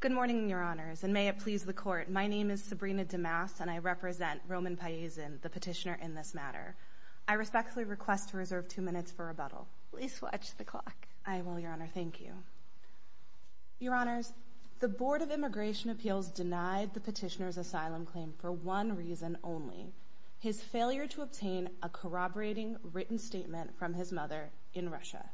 Good morning, Your Honors, and may it please the Court, my name is Sabrina DeMasse, and I represent Roman Pyanzin, the petitioner in this matter. I respectfully request to reserve two minutes for rebuttal. Please watch the clock. I will, Your Honor, thank you. Your Honors, the Board of Immigration Appeals denied the petitioner's asylum claim for one reason only, his failure to obtain a corroborating written statement from his mother in Russia.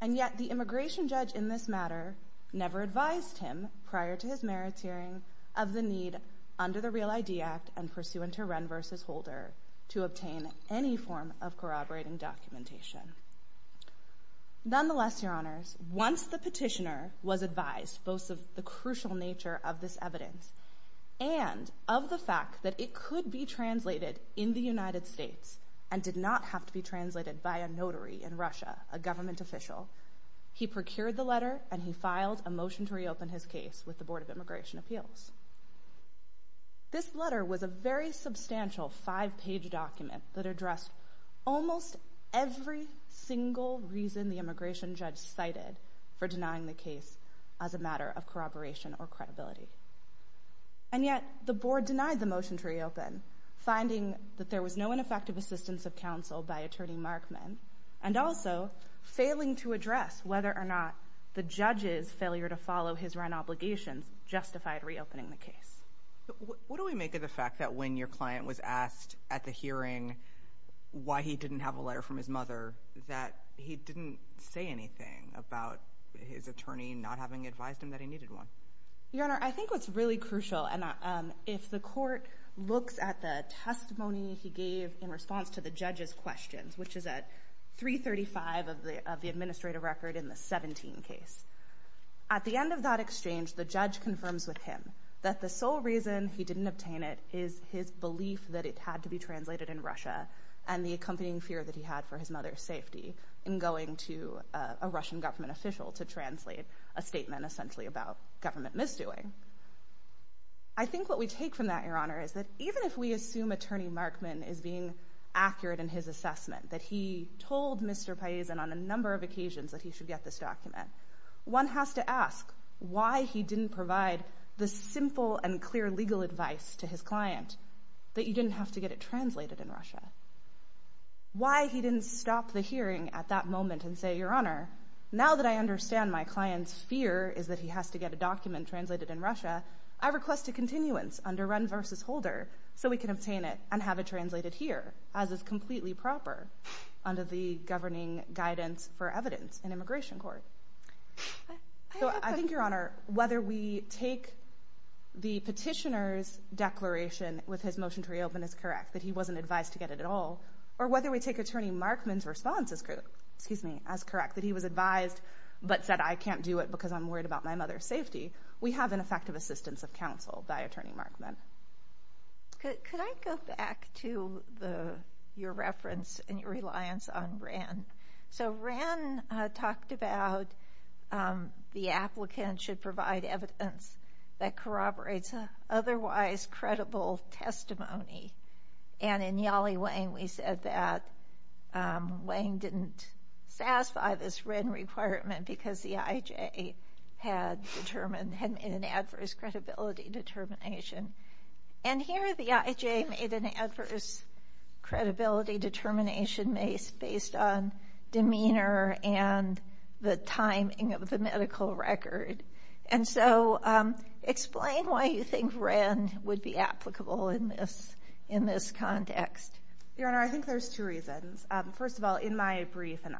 And yet, the immigration judge in this matter never advised him prior to his merits hearing of the need under the REAL ID Act and pursuant to Wren v. Holder to obtain any form of corroborating documentation. Nonetheless, Your Honors, once the petitioner was advised both of the crucial nature of this evidence and of the fact that it could be translated in the United States and did not have to be translated by a notary in Russia, a government official, he procured the letter and he filed a motion to reopen his case with the Board of Immigration Appeals. This letter was a very substantial five-page document that addressed almost every single reason the immigration judge cited for denying the case as a matter of corroboration or credibility. And yet, the Board denied the motion to reopen, finding that there was no ineffective assistance of counsel by Attorney Markman, and also failing to address whether or not the judge's failure to follow his Wren obligations justified reopening the case. What do we make of the fact that when your client was asked at the hearing why he didn't have a letter from his mother, that he didn't say anything about his attorney not having advised him that he needed one? Your Honor, I think what's really crucial, and if the court looks at the testimony he gave in response to the judge's questions, which is at 335 of the administrative record in the 17 case, at the end of that exchange, the judge confirms with him that the sole reason he didn't obtain it is his belief that it had to be translated in Russia and the accompanying fear that he had for his mother's safety in going to a Russian government official to translate a statement essentially about government misdoing. I think what we take from that, Your Honor, is that even if we assume Attorney Markman is being accurate in his assessment, that he told Mr. Paisan on a number of occasions that he should get this document, one has to ask why he didn't provide the simple and clear legal advice to his client that you didn't have to get it translated in Russia. Why he didn't stop the hearing at that moment and say, Your Honor, now that I understand my client's fear is that he has to get a document translated in Russia, I request a continuance under Wren v. Holder so we can obtain it and have it translated here, as is completely proper under the governing guidance for evidence in immigration court. So I think, Your Honor, whether we take the petitioner's declaration with his motion to counsel, or whether we take Attorney Markman's response as correct, that he was advised but said I can't do it because I'm worried about my mother's safety, we have an effective assistance of counsel by Attorney Markman. Could I go back to your reference and your reliance on Wren? So Wren talked about the applicant should provide evidence that corroborates an otherwise credible testimony, and in Yale-Wayne we said that Wayne didn't satisfy this Wren requirement because the IJ had determined, had made an adverse credibility determination. And here the IJ made an adverse credibility determination based on demeanor and the timing of the medical record. And so explain why you think Wren would be applicable in this context. Your Honor, I think there's two reasons. First of all, in my brief, and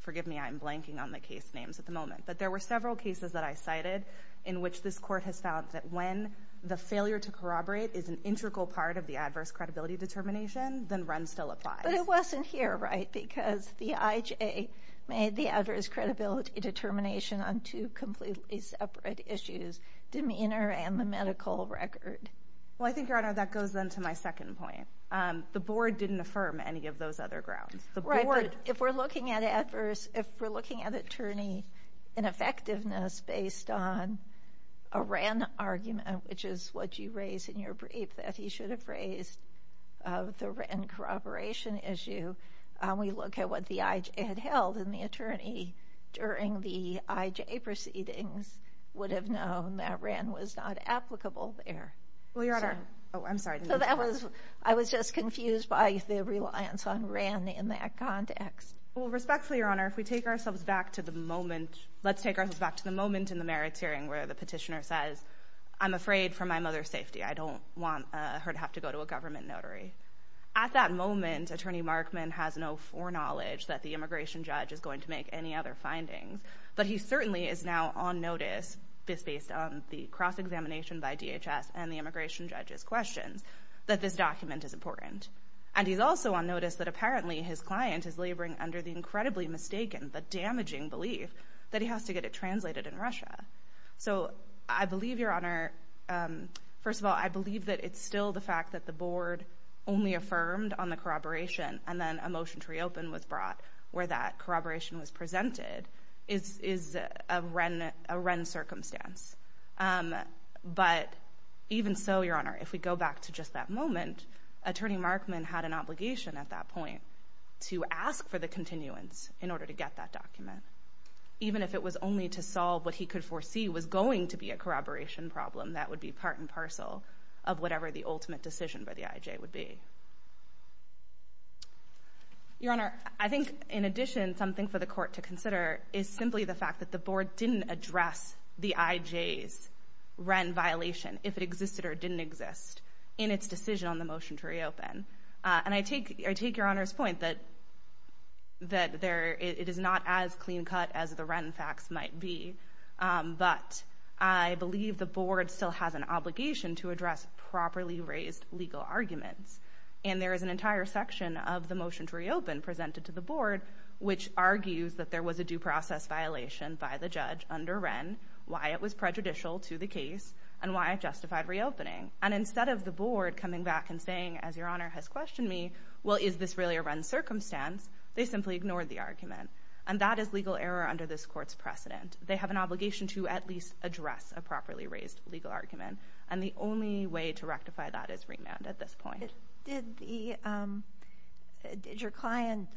forgive me, I'm blanking on the case names at the moment, but there were several cases that I cited in which this court has found that when the failure to corroborate is an integral part of the adverse credibility determination, then Wren still applies. But it wasn't here, right? Because the IJ made the adverse credibility determination on two completely separate issues, demeanor and the medical record. Well, I think, Your Honor, that goes then to my second point. The board didn't affirm any of those other grounds. The board... Right, but if we're looking at adverse, if we're looking at attorney ineffectiveness based on a Wren argument, which is what you raised in your brief that he should have raised of the Wren corroboration issue, we look at what the IJ had held, and the attorney during the IJ proceedings would have known that Wren was not applicable there. Well, Your Honor... Oh, I'm sorry. So that was... I was just confused by the reliance on Wren in that context. Well, respectfully, Your Honor, if we take ourselves back to the moment... Let's take ourselves back to the moment in the merits hearing where the petitioner says, I'm afraid for my mother's safety. I don't want her to have to go to a government notary. At that moment, attorney Markman has no foreknowledge that the immigration judge is going to make any other findings, but he certainly is now on notice, just based on the cross-examination by DHS and the immigration judge's questions, that this document is important. And he's also on notice that apparently his client is laboring under the incredibly mistaken, the damaging belief that he has to get it translated in Russia. So I believe, Your Honor... First of all, I believe that it's still the fact that the board only affirmed on the corroboration and then a motion to reopen was brought where that corroboration was presented, is a Wren circumstance. But even so, Your Honor, if we go back to just that moment, attorney Markman had an obligation at that point to ask for the continuance in order to get that document. Even if it was only to solve what he could foresee was going to be a corroboration problem, that would be part and parcel of whatever the ultimate decision by the IJ would be. Your Honor, I think in addition, something for the court to consider is simply the fact that the board didn't address the IJ's Wren violation, if it existed or didn't exist, in its decision on the motion to reopen. And I take Your Honor's point that it is not as clean cut as the Wren facts might be, but I believe the board still has an obligation to address properly raised legal arguments. And there is an entire section of the motion to reopen presented to the board, which argues that there was a due process violation by the judge under Wren, why it was prejudicial to the case, and why it justified reopening. And instead of the board coming back and saying, as Your Honor has questioned me, well is this really a Wren circumstance, they simply ignored the argument. And that is legal error under this court's precedent. They have an obligation to at least address a properly raised legal argument. And the only way to rectify that is remand at this point. Did the, did your client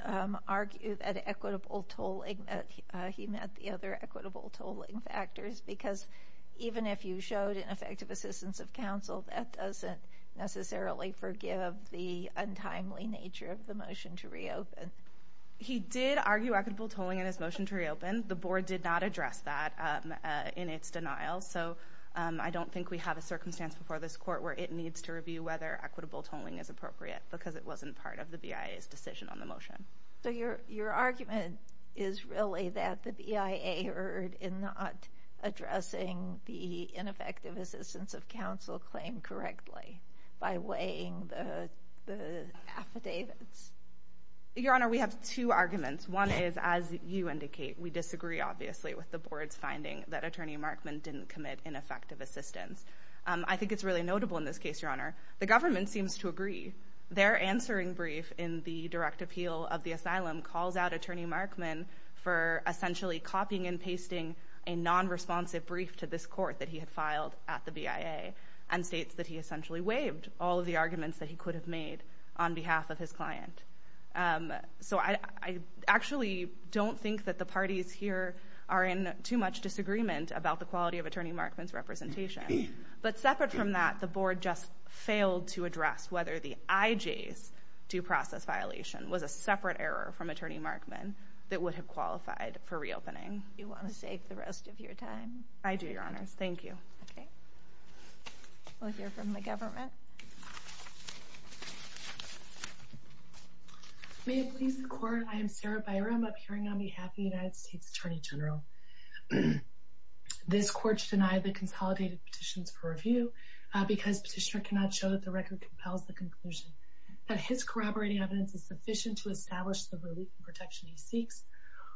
argue that equitable tolling, he met the other equitable tolling factors, because even if you showed an effective assistance of counsel, that doesn't necessarily forgive the untimely nature of the motion to reopen. He did argue equitable tolling in his motion to reopen. The board did not address that in its denial. So I don't think we have a circumstance before this court where it needs to review whether equitable tolling is appropriate, because it wasn't part of the BIA's decision on the motion. So your argument is really that the BIA erred in not addressing the ineffective assistance of counsel claim correctly by weighing the affidavits. Your Honor, we have two arguments. One is, as you indicate, we disagree, obviously, with the board's finding that Attorney Markman didn't commit ineffective assistance. I think it's really notable in this case, Your Honor. The government seems to agree. Their answering brief in the direct appeal of the asylum calls out Attorney Markman for essentially copying and pasting a non-responsive brief to this court that he had filed at the BIA, and states that he essentially waived all of the arguments that he could have made on behalf of his client. So I actually don't think that the parties here are in too much disagreement about the quality of Attorney Markman's representation. But separate from that, the board just failed to address whether the IJ's due process violation was a separate error from Attorney Markman that would have qualified for reopening. You want to save the rest of your time? I do, Your Honor. Thank you. Okay. We'll hear from the government. May it please the Court, I am Sarah Byram, appearing on behalf of the United States Attorney General. This court should deny the consolidated petitions for review because Petitioner cannot show that the record compels the conclusion that his corroborating evidence is sufficient to establish the relief and protection he seeks,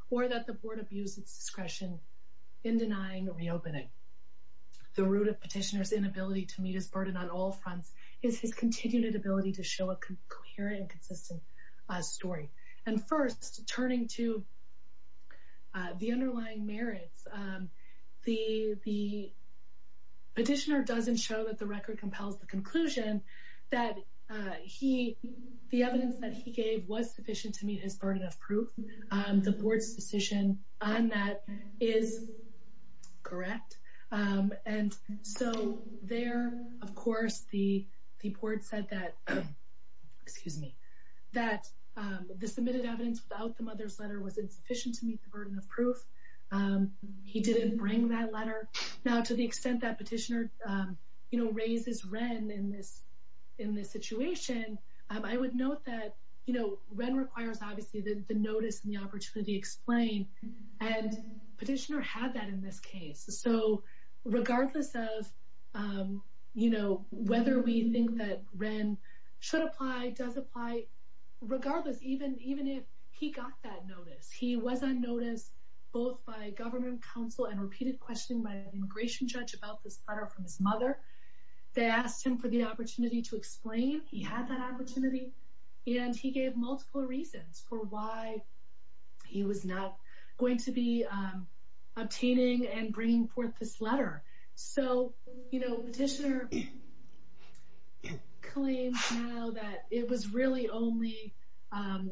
or that the board abused its discretion in denying reopening. The root of Petitioner's inability to meet his burden on all fronts is his continued inability to show a coherent and consistent story. And first, turning to the underlying merits, the petitioner doesn't show that the record compels the conclusion that the evidence that he gave was sufficient to meet his burden of proof. The board's decision on that is correct. And so there, of course, the board said that the submitted evidence without the mother's letter was insufficient to meet the burden of proof. He didn't bring that letter. Now, to the extent that Petitioner raises Wren in this situation, I would note that Wren requires, obviously, the notice and the opportunity explained, and Petitioner had that in this case. So regardless of, you know, whether we think that Wren should apply, does apply, regardless, even if he got that notice, he was on notice both by government counsel and repeated questioning by an immigration judge about this letter from his mother. They asked him for the opportunity to explain he had that opportunity, and he gave multiple reasons for why he was not going to be obtaining and bringing forth this letter. So, you know, Petitioner claims now that it was really only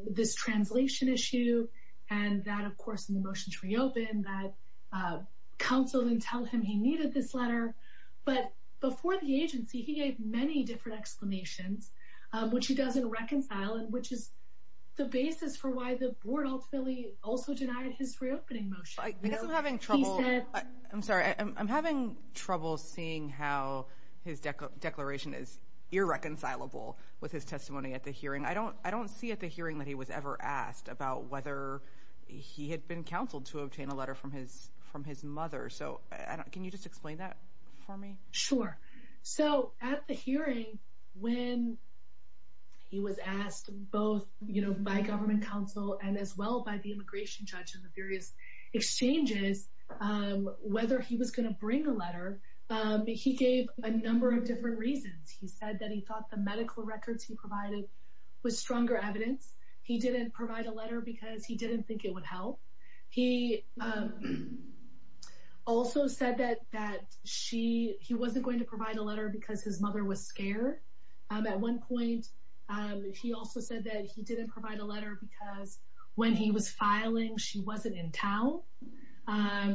this translation issue and that, of course, in the motion to reopen, that counsel didn't tell him he needed this letter. But before the agency, he gave many different exclamations, which he doesn't reconcile and which is the basis for why the board ultimately also denied his reopening motion. I guess I'm having trouble, I'm sorry, I'm having trouble seeing how his declaration is irreconcilable with his testimony at the hearing. I don't, I don't see at the hearing that he was ever asked about whether he had been counseled to obtain a letter from his, from his mother. So can you just explain that for me? Sure. So at the hearing, when he was asked both, you know, by government counsel and as well by the immigration judge and the various exchanges, whether he was going to bring a letter, he gave a number of different reasons. He said that he thought the medical records he provided was stronger evidence. He didn't provide a letter because he didn't think it would help. He also said that, that she, he wasn't going to provide a letter because his mother was scared. At one point, he also said that he didn't provide a letter because when he was filing, she wasn't in town.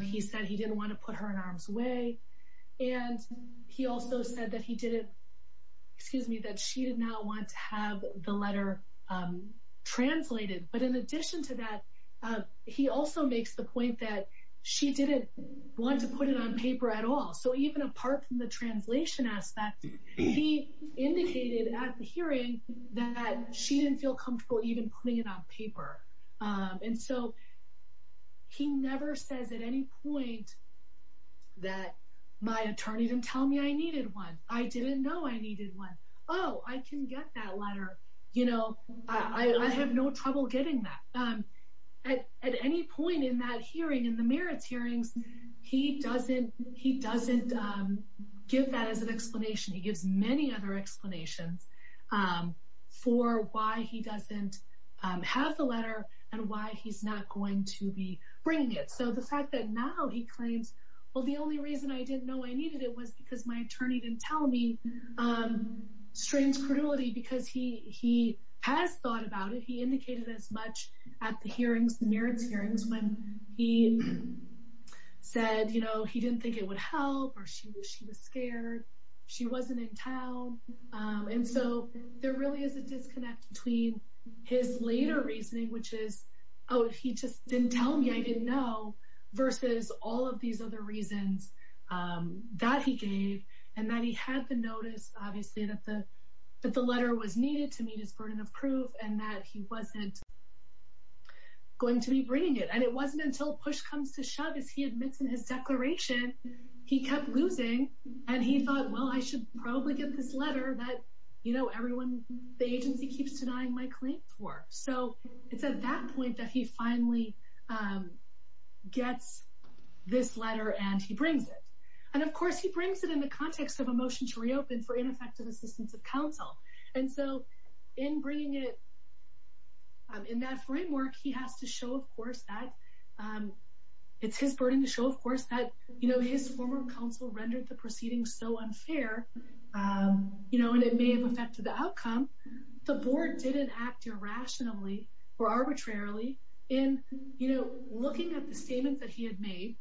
He said he didn't want to put her in harm's way. And he also said that he didn't, excuse me, that she did not want to have the letter translated. But in addition to that, he also makes the point that she didn't want to put it on paper at all. So even apart from the translation aspect, he indicated at the hearing that she didn't feel comfortable even putting it on paper. And so he never says at any point that my attorney didn't tell me I needed one. I didn't know I needed one. Oh, I can get that letter. You know, I have no trouble getting that. At any point in that hearing, in the merits hearings, he doesn't, he doesn't give that as an explanation. He gives many other explanations for why he doesn't have the letter and why he's not going to be bringing it. So the fact that now he claims, well, the only reason I didn't know I needed it was because my attorney didn't tell me, strains credulity because he has thought about it. He indicated as much at the hearings, the merits hearings, when he said, you know, he didn't think it would help or she was scared. She wasn't in town. And so there really is a disconnect between his later reasoning, which is, oh, he just didn't tell me I didn't know versus all of these other reasons that he gave and that he had the notice, obviously, that the that the letter was needed to meet his burden of proof and that he wasn't going to be bringing it. And it wasn't until push comes to shove, as he admits in his declaration, he kept losing and he thought, well, I should probably get this letter that, you know, everyone, the agency keeps denying my claim for. So it's at that point that he finally gets this letter and he brings it. And of course, he brings it in the context of a motion to reopen for ineffective assistance of counsel. And so in bringing it. In that framework, he has to show, of course, that it's his burden to show, of course, that, you know, his former counsel rendered the proceedings so unfair, you know, and it may have affected the outcome. The board didn't act irrationally or arbitrarily in, you know, looking at the statements that he had made,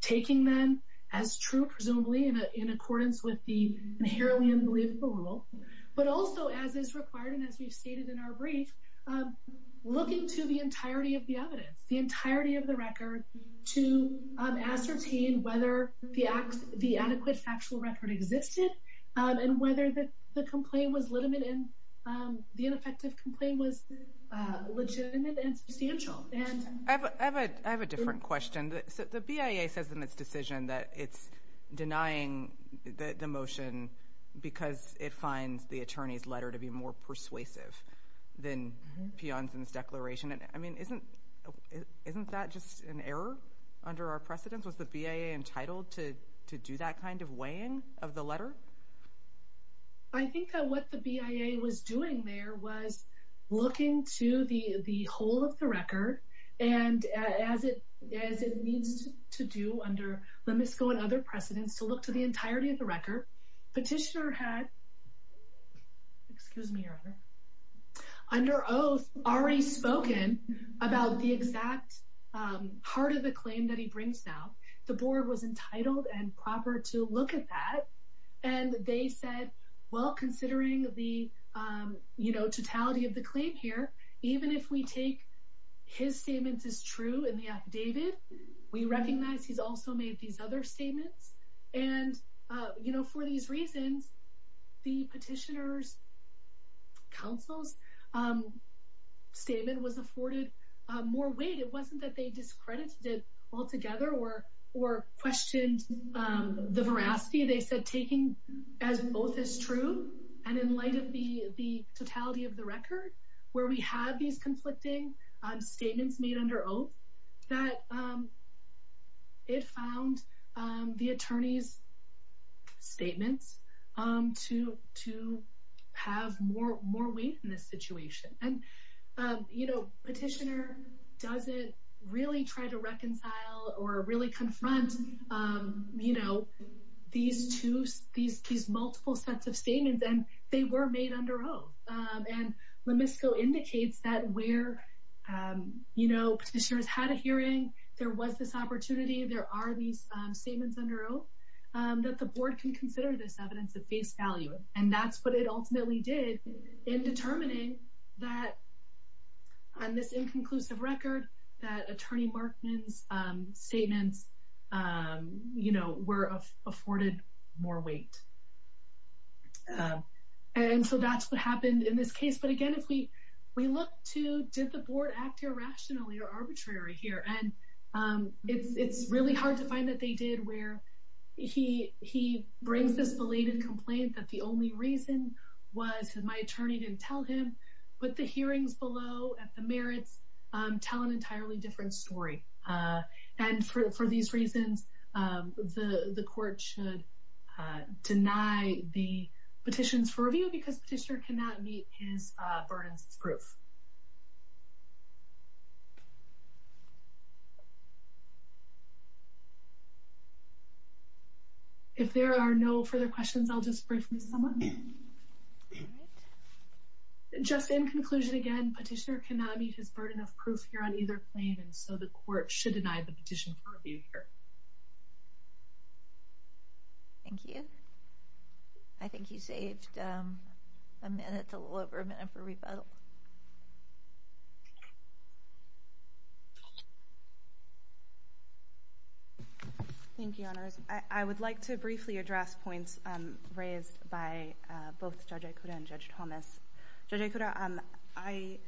taking them as true, presumably in accordance with the inherently unbelievable rule, but also as is required. And as we've stated in our brief, looking to the entirety of the evidence, the entirety of the record to ascertain whether the acts, the adequate factual record existed and whether the complaint was legitimate and the ineffective complaint was legitimate and substantial. And I have a I have a different question. The BIA says in its decision that it's denying the motion because it finds the attorney's letter to be more persuasive than Pionson's declaration. And I mean, isn't isn't that just an error under our precedence? Was the BIA entitled to to do that kind of weighing of the letter? I think that what the BIA was doing there was looking to the the whole of the record and as it as it needs to do under Lemisco and other precedents to look to the entirety of the record. Petitioner had, excuse me, under oath already spoken about the exact heart of the claim that he brings now. The board was entitled and proper to look at that. And they said, well, considering the totality of the claim here, even if we take his statements as true in the affidavit, we recognize he's also made these other statements. And for these reasons, the petitioner's counsel's statement was afforded more weight. It wasn't that they discredited it altogether or or questioned the veracity. They said taking as both is true. And in light of the the totality of the record where we have these conflicting statements made under oath that it found the attorney's statements to to have more more weight in it. And, you know, petitioner doesn't really try to reconcile or really confront, you know, these two these these multiple sets of statements. And they were made under oath. And Lemisco indicates that where, you know, petitioners had a hearing, there was this opportunity. There are these statements under oath that the board can consider this evidence of face value. And that's what it ultimately did in determining that on this inconclusive record, that attorney Markman's statements, you know, were afforded more weight. And so that's what happened in this case. But again, if we we look to did the board act irrationally or arbitrary here, and it's really hard to find that they did where he he brings this belated complaint that the only reason was that my attorney didn't tell him. But the hearings below at the merits tell an entirely different story. And for these reasons, the court should deny the petitions for review because the petitioner cannot meet his burdens of proof. If there are no further questions, I'll just briefly someone just in conclusion, again, petitioner cannot meet his burden of proof here on either plane, and so the court should deny the petition for review here. Thank you. I think you saved a minute, a little over a minute for rebuttal. Thank you. I would like to briefly address points raised by both Judge Ikuda and Judge Thomas. Judge Ikuda, I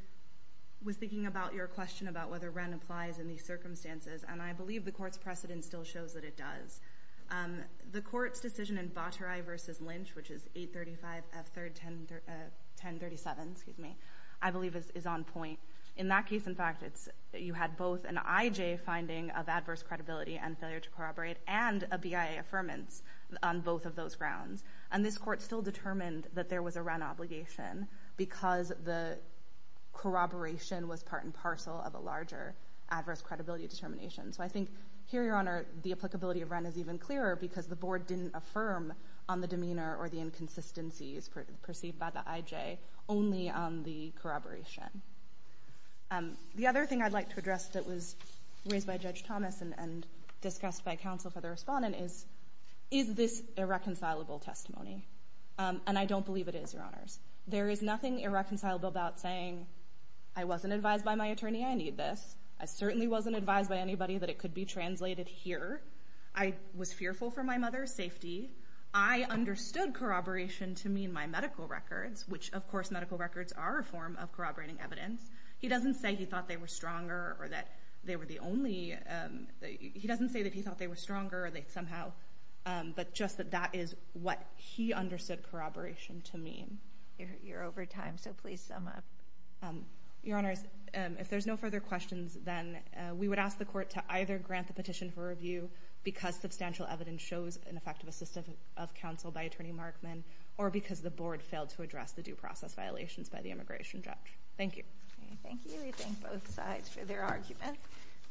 was thinking about your question about whether Wren applies in these circumstances, and I believe the court's precedent still shows that it does. The court's decision in Votarai versus Lynch, which is 835 F. 3rd, 1037, excuse me, I believe is on point in that case. In fact, you had both an I.J. finding of adverse credibility and failure to corroborate and a BIA affirmance on both of those grounds. And this court still determined that there was a Wren obligation because the corroboration was part and parcel of a larger adverse credibility determination. So I think here, Your Honor, the applicability of Wren is even clearer because the board didn't affirm on the demeanor or the inconsistencies perceived by the I.J. only on the corroboration. The other thing I'd like to address that was raised by Judge Thomas and discussed by counsel for the respondent is, is this a reconcilable testimony? And I don't believe it is, Your Honors. There is nothing irreconcilable about saying I wasn't advised by my attorney I need this. I certainly wasn't advised by anybody that it could be translated here. I was fearful for my mother's safety. I understood corroboration to mean my medical records, which, of course, medical records are a form of corroborating evidence. He doesn't say he thought they were stronger or that they were the only he doesn't say that he thought they were stronger or they somehow. But just that that is what he understood corroboration to mean. You're over time, so please sum up, Your Honors. If there's no further questions, then we would ask the court to either grant the petition for review because substantial evidence shows an effective assist of counsel by attorney Markman or because the board failed to address the due process violations by the immigration judge. Thank you. Thank you. We thank both sides for their argument.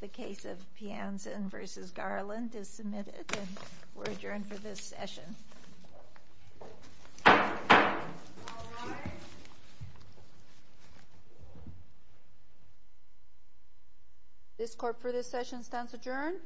The case of Piansen versus Garland is submitted and we're adjourned for this session. This court for this session stands adjourned.